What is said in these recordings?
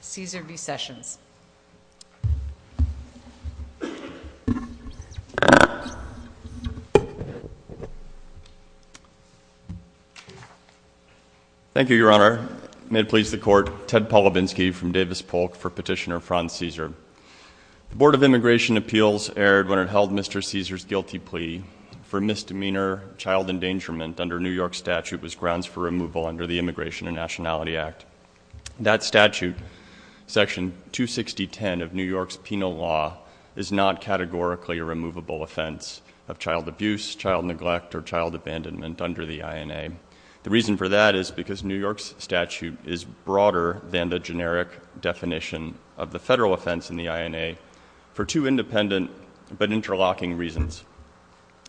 Cesar v. Sessions. Thank you, Your Honor. May it please the Court, Ted Polovinsky from Davis Polk for Petitioner Franz Cesar. The Board of Immigration Appeals erred when it held Mr. Cesar's guilty plea for misdemeanor child endangerment under New York statute was grounds for removal under the Immigration and Nationality Act. That statute, Section 26010 of New York's penal law, is not categorically a removable offense of child abuse, child neglect, or child abandonment under the INA. The reason for that is because New York's statute is broader than the generic definition of the federal offense in the INA for two independent but interlocking reasons.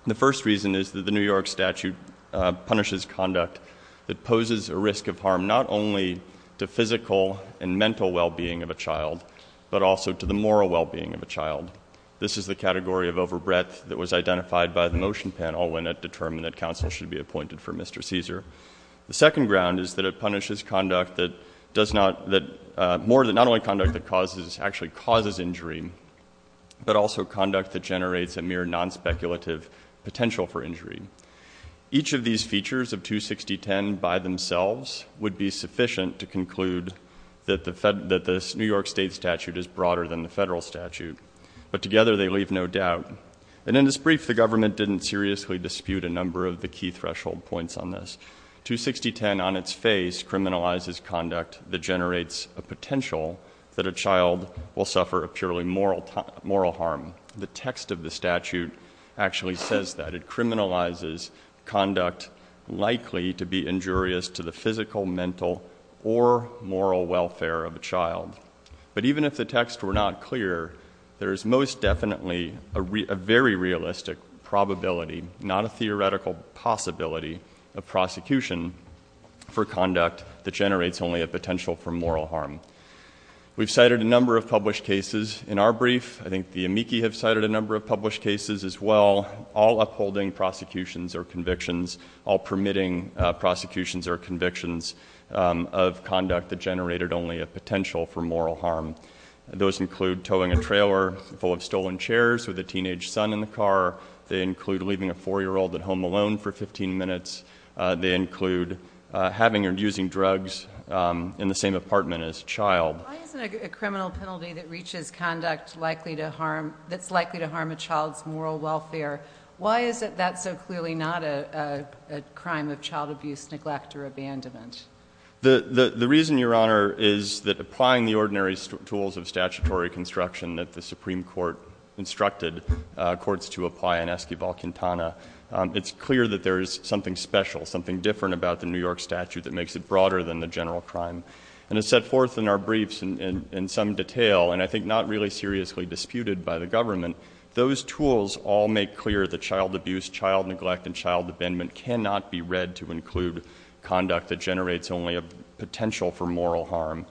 The first reason is that the New York statute punishes conduct that poses a risk of harm not only to physical and mental well-being of a child, but also to the moral well-being of a child. This is the category of overbreadth that was identified by the Motion Panel when it determined that counsel should be appointed for Mr. Cesar. The second ground is that it punishes conduct that does not, not only conduct that actually causes injury, but also conduct that generates a mere non-speculative potential for injury. Each of these features of 26010 by themselves would be sufficient to conclude that the New York state statute is broader than the federal statute, but together they leave no doubt. And in this brief, the government didn't seriously dispute a number of the key threshold points on this. 26010 on its face criminalizes conduct that generates a potential that a child will suffer a purely moral harm. The text of the statute actually says that. It criminalizes conduct likely to be injurious to the physical, mental, or moral welfare of a child. But even if the texts were not clear, there is most definitely a very realistic probability, not a theoretical possibility of prosecution for conduct that generates only a potential for moral harm. We've cited a number of published cases in our brief. I think the amici have cited a number of published cases as well, all upholding prosecutions or convictions, all permitting prosecutions or convictions of conduct that generated only a potential for moral harm. Those include towing a trailer full of stolen chairs with a teenage son in the car. They include leaving a 4-year-old at home alone for 15 minutes. They include having or using drugs in the same apartment as a child. Why isn't a criminal penalty that reaches conduct that's likely to harm a child's moral welfare, why is that so clearly not a crime of child abuse, neglect, or abandonment? The reason, Your Honor, is that applying the ordinary tools of statutory construction that the Supreme Court instructed courts to apply in Esquivel-Quintana, it's clear that there is something special, something different about the New York statute that makes it broader than the general crime. And it's set forth in our briefs in some detail, and I think not really seriously disputed by the government, those tools all make clear that child abuse, child neglect, and child abandonment cannot be read to include conduct that generates only a potential for moral harm.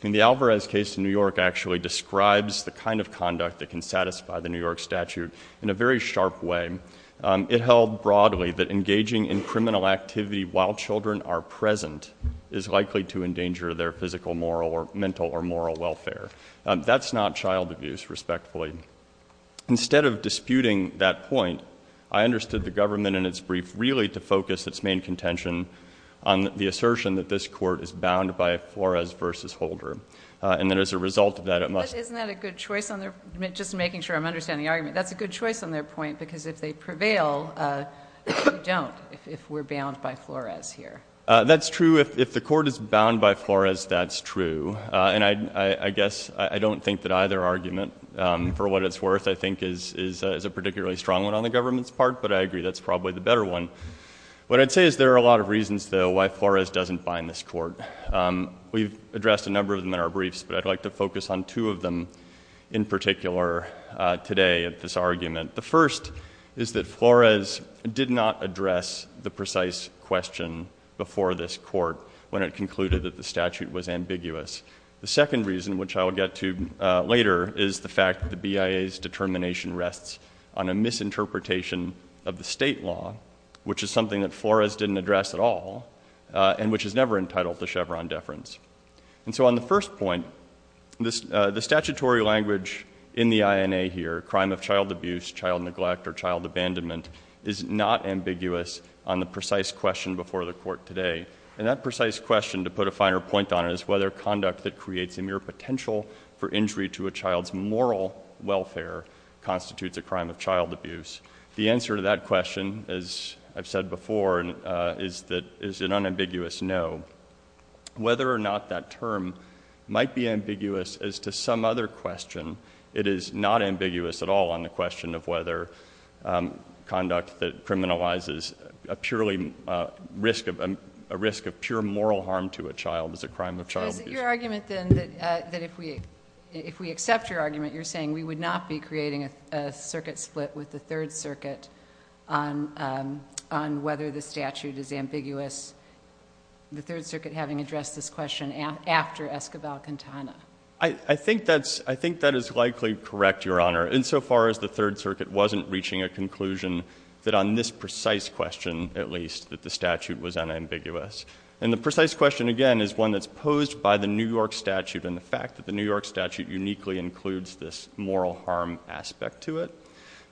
The Alvarez case in New York actually describes the kind of conduct that can satisfy the New York statute in a very sharp way. It held broadly that engaging in criminal activity while children are present is likely to endanger their physical, moral, or mental or moral welfare. That's not child abuse, respectfully. Instead of disputing that point, I understood the government in its brief really to focus its main contention on the assertion that this court is bound by Flores v. Holder, and that as a result of that it must be. But isn't that a good choice on their, just making sure I'm understanding the argument, that's a good choice on their point because if they prevail, we don't if we're bound by Flores here. That's true. If the court is bound by Flores, that's true. And I guess I don't think that either argument, for what it's worth, I think is a particularly strong one on the government's part, but I agree that's probably the better one. What I'd say is there are a lot of reasons, though, why Flores doesn't bind this court. We've addressed a number of them in our briefs, but I'd like to focus on two of them in particular today at this argument. The first is that Flores did not address the precise question before this court when it concluded that the statute was ambiguous. The second reason, which I'll get to later, is the fact that the BIA's determination rests on a misinterpretation of the state law, which is something that Flores didn't address at all and which is never entitled to Chevron deference. And so on the first point, the statutory language in the INA here, crime of child abuse, child neglect, or child abandonment, is not ambiguous on the precise question before the court today. And that precise question, to put a finer point on it, is whether conduct that creates a mere potential for injury to a child's moral welfare constitutes a crime of child abuse. The answer to that question, as I've said before, is an unambiguous no. Whether or not that term might be ambiguous as to some other question, it is not ambiguous at all on the question of whether conduct that criminalizes a purely risk of pure moral harm to a child is a crime of child abuse. So is it your argument, then, that if we accept your argument, you're saying we would not be creating a circuit split with the Third Circuit on whether the statute is ambiguous, the Third Circuit having addressed this question after Escobar-Quintana? I think that is likely correct, Your Honor, insofar as the Third Circuit wasn't reaching a conclusion that on this precise question, at least, that the statute was unambiguous. And the precise question, again, is one that's posed by the New York statute and the fact that the New York statute uniquely includes this moral harm aspect to it.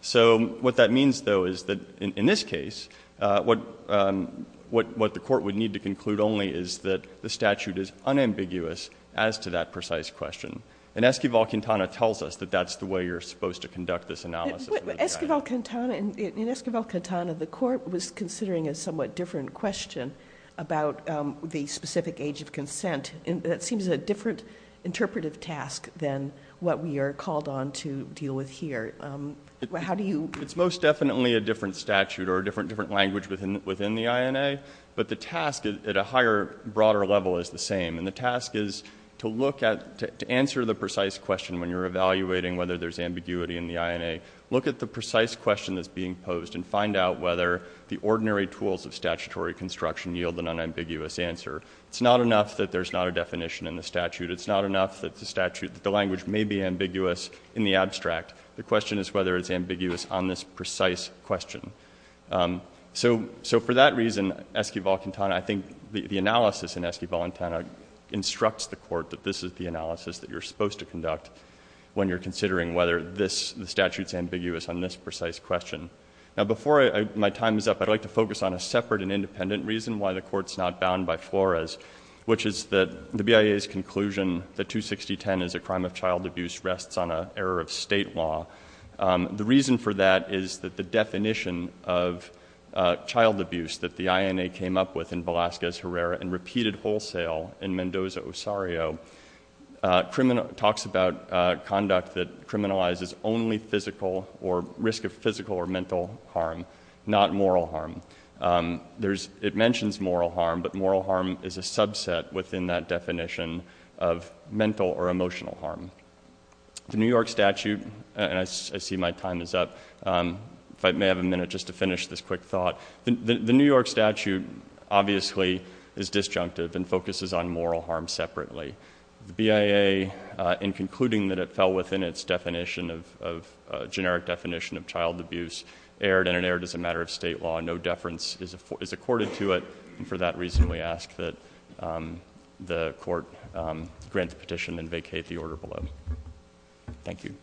So what that means, though, is that in this case, what the court would need to conclude only is that the statute is unambiguous as to that precise question. And Escobar-Quintana tells us that that's the way you're supposed to conduct this analysis. But Escobar-Quintana, in Escobar-Quintana, the court was considering a somewhat different question about the specific age of consent. That seems a different interpretive task than what we are called on to deal with here. How do you? It's most definitely a different statute or a different language within the INA, but the task at a higher, broader level is the same. And the task is to look at, to answer the precise question when you're evaluating whether there's ambiguity in the INA. Look at the precise question that's being posed and find out whether the ordinary tools of statutory construction yield an unambiguous answer. It's not enough that there's not a definition in the statute. It's not enough that the language may be ambiguous in the abstract. The question is whether it's ambiguous on this precise question. So for that reason, Escobar-Quintana, I think the analysis in Escobar-Quintana instructs the court that this is the analysis that you're supposed to conduct when you're considering whether the statute's ambiguous on this precise question. Now, before my time is up, I'd like to focus on a separate and independent reason why the Court's not bound by Flores, which is that the BIA's conclusion that 26010 is a crime of child abuse rests on an error of State law. The reason for that is that the definition of child abuse that the INA came up with in Velazquez-Herrera and repeated wholesale in Mendoza-Osario talks about conduct that criminalizes only physical or risk of physical or mental harm, not moral harm. It mentions moral harm, but moral harm is a subset within that definition of mental or emotional harm. The New York statute, and I see my time is up, if I may have a minute just to finish this quick thought, the New York statute obviously is disjunctive and focuses on moral harm separately. The BIA, in concluding that it fell within its generic definition of child abuse, erred, and it erred as a matter of State law. No deference is accorded to it, and for that reason we ask that the Court grant the petition and vacate the order below. Thank you.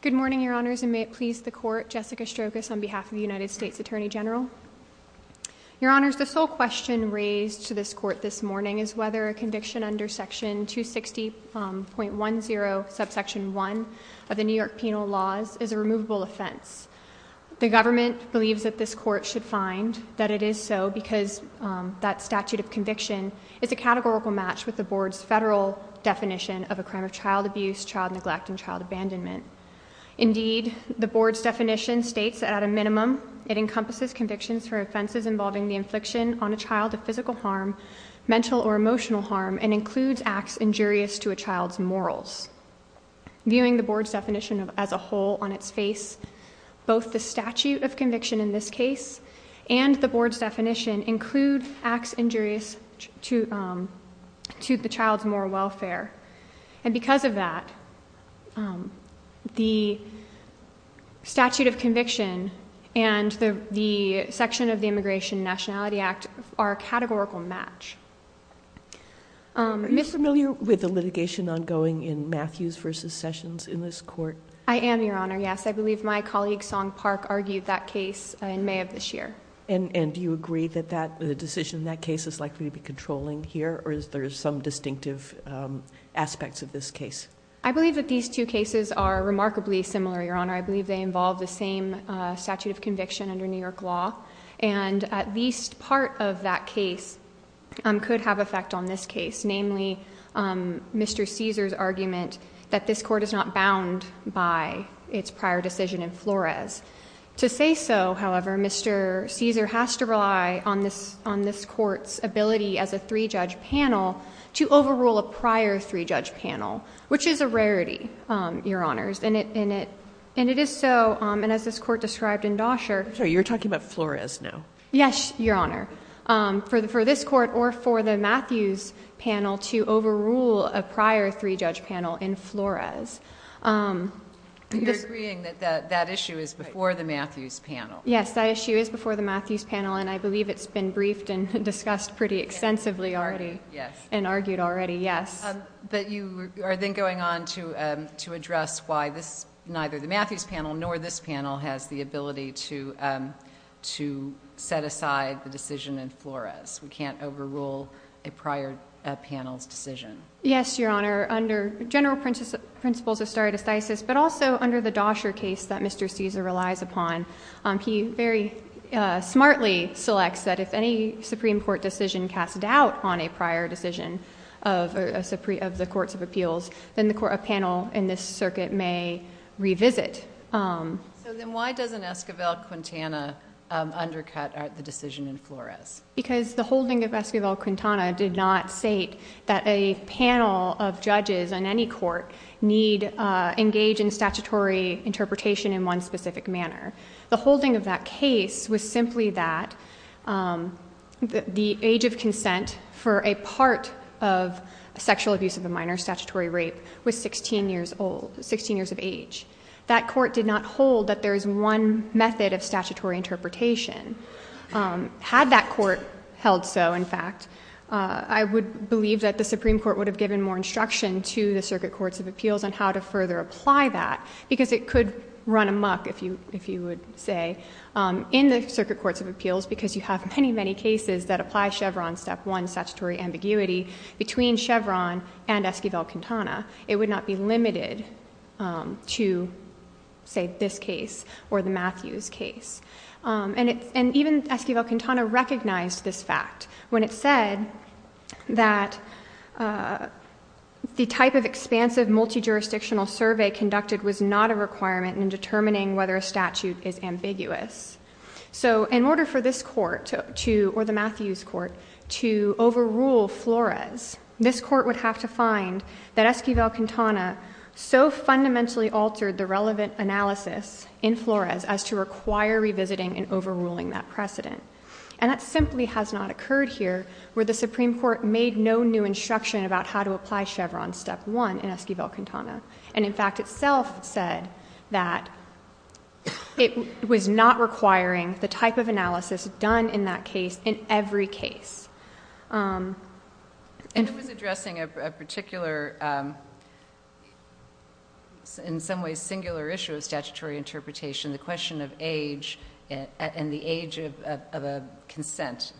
Good morning, Your Honors, and may it please the Court. Jessica Strokos on behalf of the United States Attorney General. Your Honors, the sole question raised to this Court this morning is whether a conviction under Section 260.10, Subsection 1 of the New York Penal Laws is a removable offense. The government believes that this Court should find that it is so because that statute of conviction is a categorical match with the Board's federal definition of a crime of child abuse, child neglect, and child abandonment. Indeed, the Board's definition states that at a minimum it encompasses convictions for offenses involving the infliction on a child of physical harm, mental or emotional harm, and includes acts injurious to a child's morals. Viewing the Board's definition as a whole on its face, both the statute of conviction in this case and the Board's definition include acts injurious to the child's moral welfare. And because of that, the statute of conviction and the section of the Immigration and Nationality Act are a categorical match. Are you familiar with the litigation ongoing in Matthews v. Sessions in this Court? I am, Your Honor, yes. I believe my colleague Song Park argued that case in May of this year. And do you agree that the decision in that case is likely to be controlling here, or is there some distinctive aspects of this case? I believe that these two cases are remarkably similar, Your Honor. I believe they involve the same statute of conviction under New York law. And at least part of that case could have effect on this case, namely Mr. Cesar's argument that this Court is not bound by its prior decision in Flores. To say so, however, Mr. Cesar has to rely on this Court's ability as a three-judge panel to overrule a prior three-judge panel, which is a rarity, Your Honors. And it is so, and as this Court described in Doscher— I'm sorry, you're talking about Flores now. Yes, Your Honor. For this Court or for the Matthews panel to overrule a prior three-judge panel in Flores. You're agreeing that that issue is before the Matthews panel? Yes, that issue is before the Matthews panel, and I believe it's been briefed and discussed pretty extensively already. And argued already, yes. But you are then going on to address why this, neither the Matthews panel nor this panel has the ability to set aside the decision in Flores. We can't overrule a prior panel's decision. Yes, Your Honor. Under general principles of stare decisis, but also under the Doscher case that Mr. Cesar relies upon, he very smartly selects that if any Supreme Court decision cast doubt on a prior decision of the Courts of Appeals, then the panel in this circuit may revisit. So then why doesn't Esquivel-Quintana undercut the decision in Flores? Because the holding of Esquivel-Quintana did not state that a panel of judges in any court need engage in statutory interpretation in one specific manner. The holding of that case was simply that the age of consent for a part of sexual abuse of a minor, statutory rape, was 16 years old, 16 years of age. That court did not hold that there is one method of statutory interpretation. Had that court held so, in fact, I would believe that the Supreme Court would have given more instruction to the Circuit Courts of Appeals on how to further apply that, because it could run amok, if you would say, in the Circuit Courts of Appeals, because you have many, many cases that apply Chevron Step 1 statutory ambiguity between Chevron and Esquivel-Quintana. It would not be limited to, say, this case or the Matthews case. And even Esquivel-Quintana recognized this fact when it said that the type of expansive multi-jurisdictional survey conducted was not a requirement in determining whether a statute is ambiguous. So in order for this court, or the Matthews court, to overrule Flores, this court would have to find that Esquivel-Quintana so fundamentally altered the relevant analysis in Flores as to require revisiting and overruling that precedent. And that simply has not occurred here, where the Supreme Court made no new instruction about how to apply Chevron Step 1 in Esquivel-Quintana. And, in fact, itself said that it was not requiring the type of analysis done in that case in every case. And it was addressing a particular, in some ways, singular issue of statutory interpretation, the question of age and the age of a consent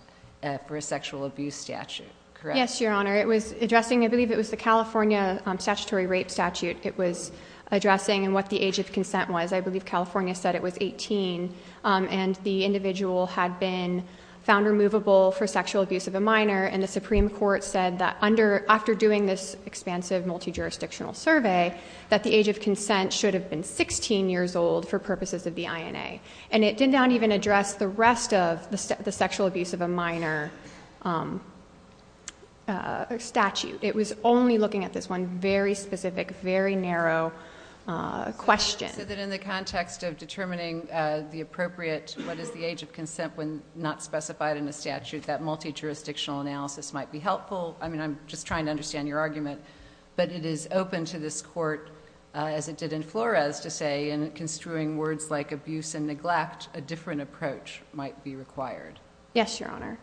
for a sexual abuse statute, correct? Yes, Your Honor. It was addressing, I believe it was the California statutory rape statute it was addressing and what the age of consent was. I believe California said it was 18, and the individual had been found removable for sexual abuse of a minor, and the Supreme Court said that after doing this expansive multi-jurisdictional survey that the age of consent should have been 16 years old for purposes of the INA. And it did not even address the rest of the sexual abuse of a minor statute. It was only looking at this one very specific, very narrow question. You said that in the context of determining the appropriate, what is the age of consent when not specified in the statute, that multi-jurisdictional analysis might be helpful. I mean, I'm just trying to understand your argument. That is to say, in construing words like abuse and neglect, a different approach might be required. Yes, Your Honor.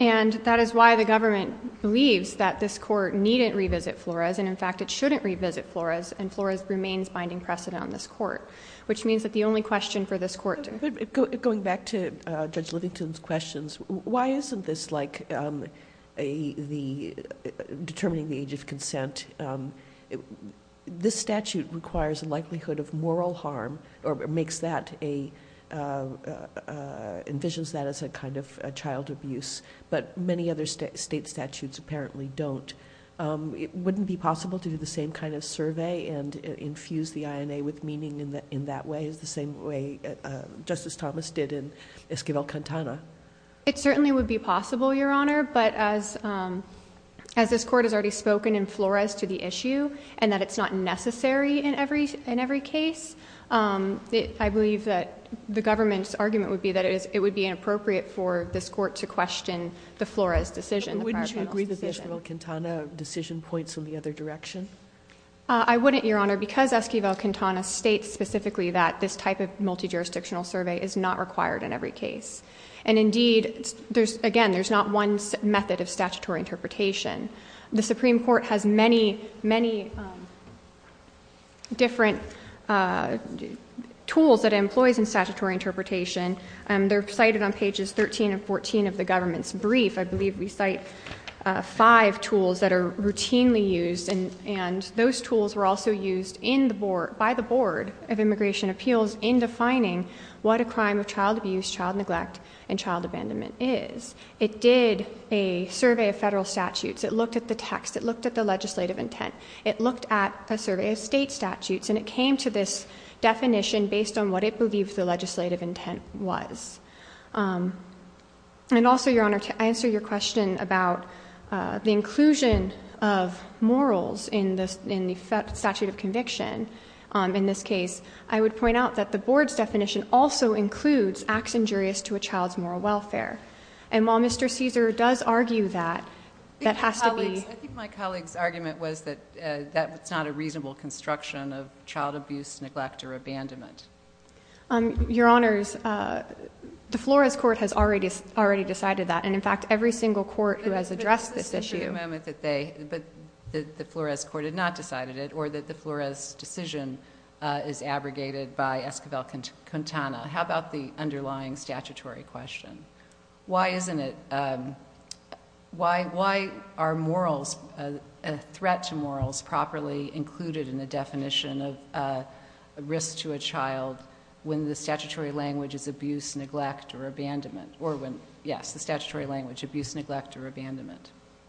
And that is why the government believes that this court needn't revisit Flores, and in fact it shouldn't revisit Flores, and Flores remains binding precedent on this court, which means that the only question for this court to— Going back to Judge Livington's questions, why isn't this like determining the age of consent? This statute requires a likelihood of moral harm, or makes that a—envisions that as a kind of child abuse, but many other state statutes apparently don't. Wouldn't it be possible to do the same kind of survey and infuse the INA with meaning in that way, the same way Justice Thomas did in Esquivel-Cantana? It certainly would be possible, Your Honor, but as this court has already spoken in Flores to the issue, and that it's not necessary in every case, I believe that the government's argument would be that it would be inappropriate for this court to question the Flores decision, the prior panel's decision. Wouldn't you agree that the Esquivel-Cantana decision points in the other direction? I wouldn't, Your Honor, because Esquivel-Cantana states specifically that this type of multi-jurisdictional survey is not required in every case. And indeed, again, there's not one method of statutory interpretation. The Supreme Court has many, many different tools that it employs in statutory interpretation. They're cited on pages 13 and 14 of the government's brief. I believe we cite five tools that are routinely used, and those tools were also used by the Board of Immigration Appeals in defining what a crime of child abuse, child neglect, and child abandonment is. It did a survey of federal statutes. It looked at the text. It looked at the legislative intent. It looked at a survey of state statutes, and it came to this definition based on what it believed the legislative intent was. And also, Your Honor, to answer your question about the inclusion of morals in the statute of conviction in this case, I would point out that the Board's definition also includes acts injurious to a child's moral welfare. And while Mr. Caesar does argue that, that has to be ---- I think my colleague's argument was that it's not a reasonable construction of child abuse, neglect, or abandonment. Your Honors, the Flores Court has already decided that, and, in fact, every single court who has addressed this issue ---- How about the underlying statutory question? Why isn't it ---- Why are morals, threat to morals, properly included in the definition of risk to a child when the statutory language is abuse, neglect, or abandonment? Or when, yes, the statutory language, abuse, neglect, or abandonment.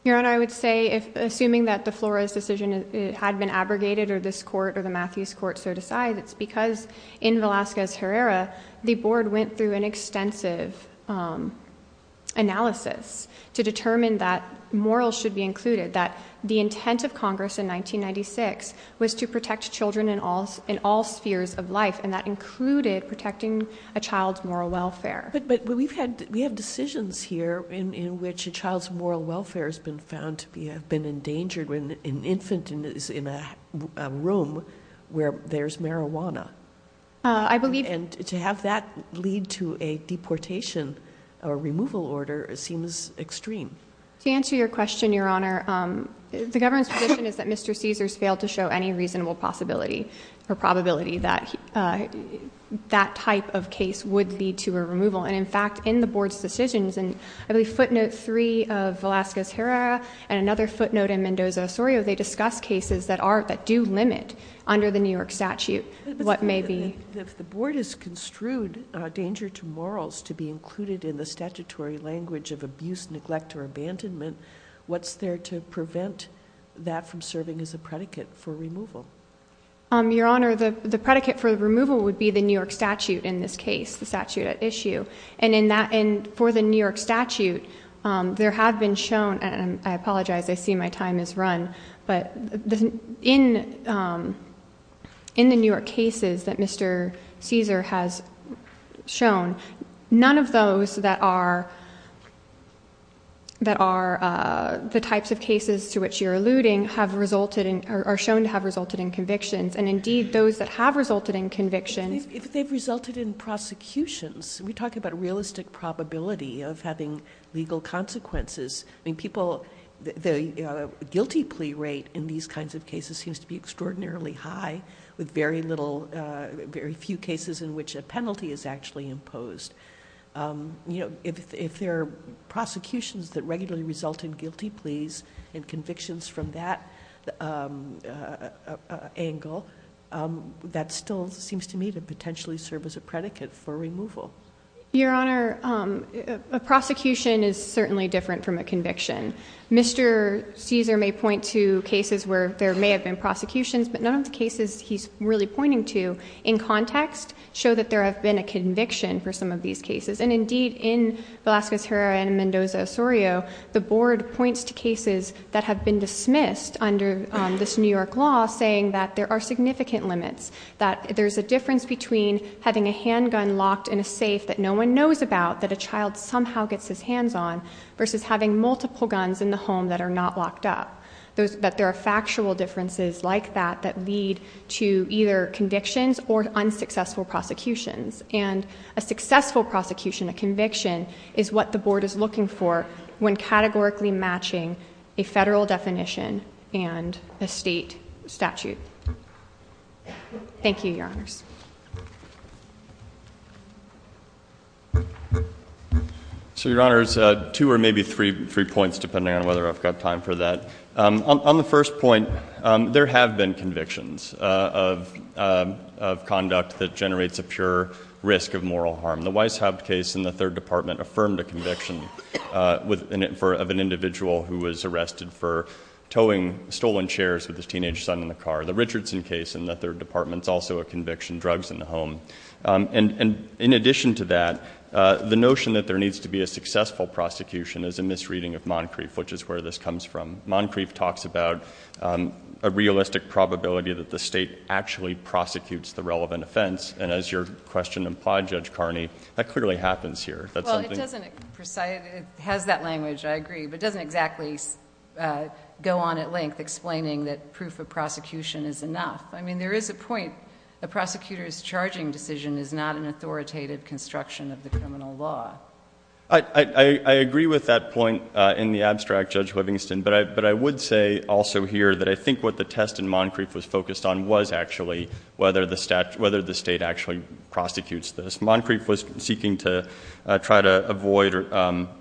Your Honor, I would say, assuming that the Flores decision had been abrogated, or this court, or the Matthews court, so decide, it's because in Velazquez-Herrera, the Board went through an extensive analysis to determine that morals should be included, that the intent of Congress in 1996 was to protect children in all spheres of life, and that included protecting a child's moral welfare. But we have decisions here in which a child's moral welfare has been found to have been endangered when an infant is in a room where there's marijuana. I believe ---- And to have that lead to a deportation or removal order seems extreme. To answer your question, Your Honor, the government's position is that Mr. Caesars failed to show any reasonable possibility or probability that that type of case would lead to a removal. And, in fact, in the Board's decisions, in, I believe, footnote 3 of Velazquez-Herrera and another footnote in Mendoza-Osorio, they discuss cases that do limit under the New York statute what may be ---- If the Board has construed danger to morals to be included in the statutory language of abuse, neglect, or abandonment, what's there to prevent that from serving as a predicate for removal? Your Honor, the predicate for removal would be the New York statute in this case, the statute at issue. And for the New York statute, there have been shown ---- And I apologize. I see my time has run. But in the New York cases that Mr. Caesar has shown, none of those that are the types of cases to which you're alluding are shown to have resulted in convictions. And, indeed, those that have resulted in convictions ---- If they've resulted in prosecutions, we talk about realistic probability of having legal consequences. I mean, people, the guilty plea rate in these kinds of cases seems to be extraordinarily high, with very little, very few cases in which a penalty is actually imposed. If there are prosecutions that regularly result in guilty pleas and convictions from that angle, that still seems to me to potentially serve as a predicate for removal. Your Honor, a prosecution is certainly different from a conviction. Mr. Caesar may point to cases where there may have been prosecutions, but none of the cases he's really pointing to in context show that there have been a conviction for some of these cases. And, indeed, in Velasquez-Herrera and Mendoza-Osorio, the board points to cases that have been dismissed under this New York law, saying that there are significant limits. That there's a difference between having a handgun locked in a safe that no one knows about, that a child somehow gets his hands on, versus having multiple guns in the home that are not locked up. That there are factual differences like that that lead to either convictions or unsuccessful prosecutions. And a successful prosecution, a conviction, is what the board is looking for when categorically matching a federal definition and a state statute. Thank you, Your Honors. So, Your Honors, two or maybe three points, depending on whether I've got time for that. On the first point, there have been convictions of conduct that generates a pure risk of moral harm. The Weishaupt case in the Third Department affirmed a conviction of an individual who was arrested for towing stolen chairs with his teenage son in the car. The Richardson case in the Third Department is also a conviction, drugs in the home. And, in addition to that, the notion that there needs to be a successful prosecution is a misreading of Moncrief, which is where this comes from. Moncrief talks about a realistic probability that the state actually prosecutes the relevant offense. And, as your question implied, Judge Carney, that clearly happens here. Well, it doesn't precise. It has that language, I agree, but it doesn't exactly go on at length explaining that proof of prosecution is enough. I mean, there is a point. A prosecutor's charging decision is not an authoritative construction of the criminal law. I agree with that point in the abstract, Judge Livingston, but I would say also here that I think what the test in Moncrief was focused on was actually whether the state actually prosecutes this. Moncrief was seeking to try to avoid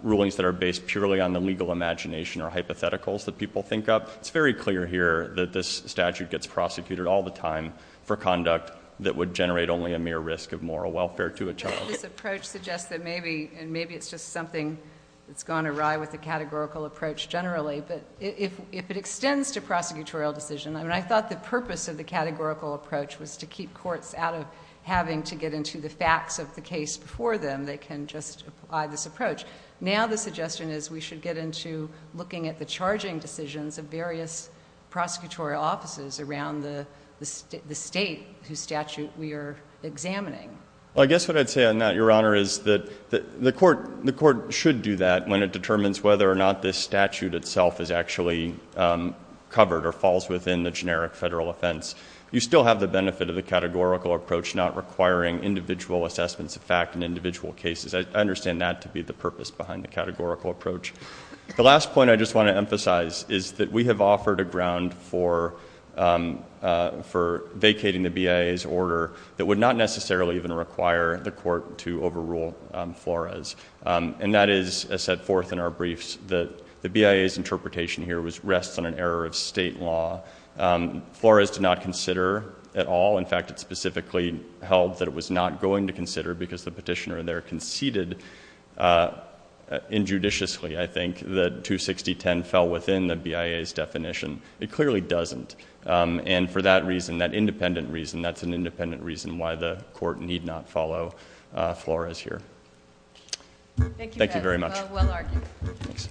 rulings that are based purely on the legal imagination or hypotheticals that people think up. It's very clear here that this statute gets prosecuted all the time for conduct that would generate only a mere risk of moral welfare to a child. This approach suggests that maybe, and maybe it's just something that's gone awry with the categorical approach generally, but if it extends to prosecutorial decision, I mean, I thought the purpose of the categorical approach was to keep courts out of having to get into the facts of the case before them. They can just apply this approach. Now the suggestion is we should get into looking at the charging decisions of various prosecutorial offices around the state whose statute we are examining. Well, I guess what I'd say on that, Your Honor, is that the court should do that when it determines whether or not this statute itself is actually covered or falls within the generic federal offense. You still have the benefit of the categorical approach not requiring individual assessments of fact in individual cases. I understand that to be the purpose behind the categorical approach. The last point I just want to emphasize is that we have offered a ground for vacating the BIA's order that would not necessarily even require the court to overrule Flores. And that is set forth in our briefs that the BIA's interpretation here rests on an error of state law. Flores did not consider at all. In fact, it specifically held that it was not going to consider because the petitioner there conceded injudiciously, I think, that 26010 fell within the BIA's definition. It clearly doesn't. And for that reason, that independent reason, that's an independent reason why the court need not follow Flores here. Thank you very much. Well argued. Thanks.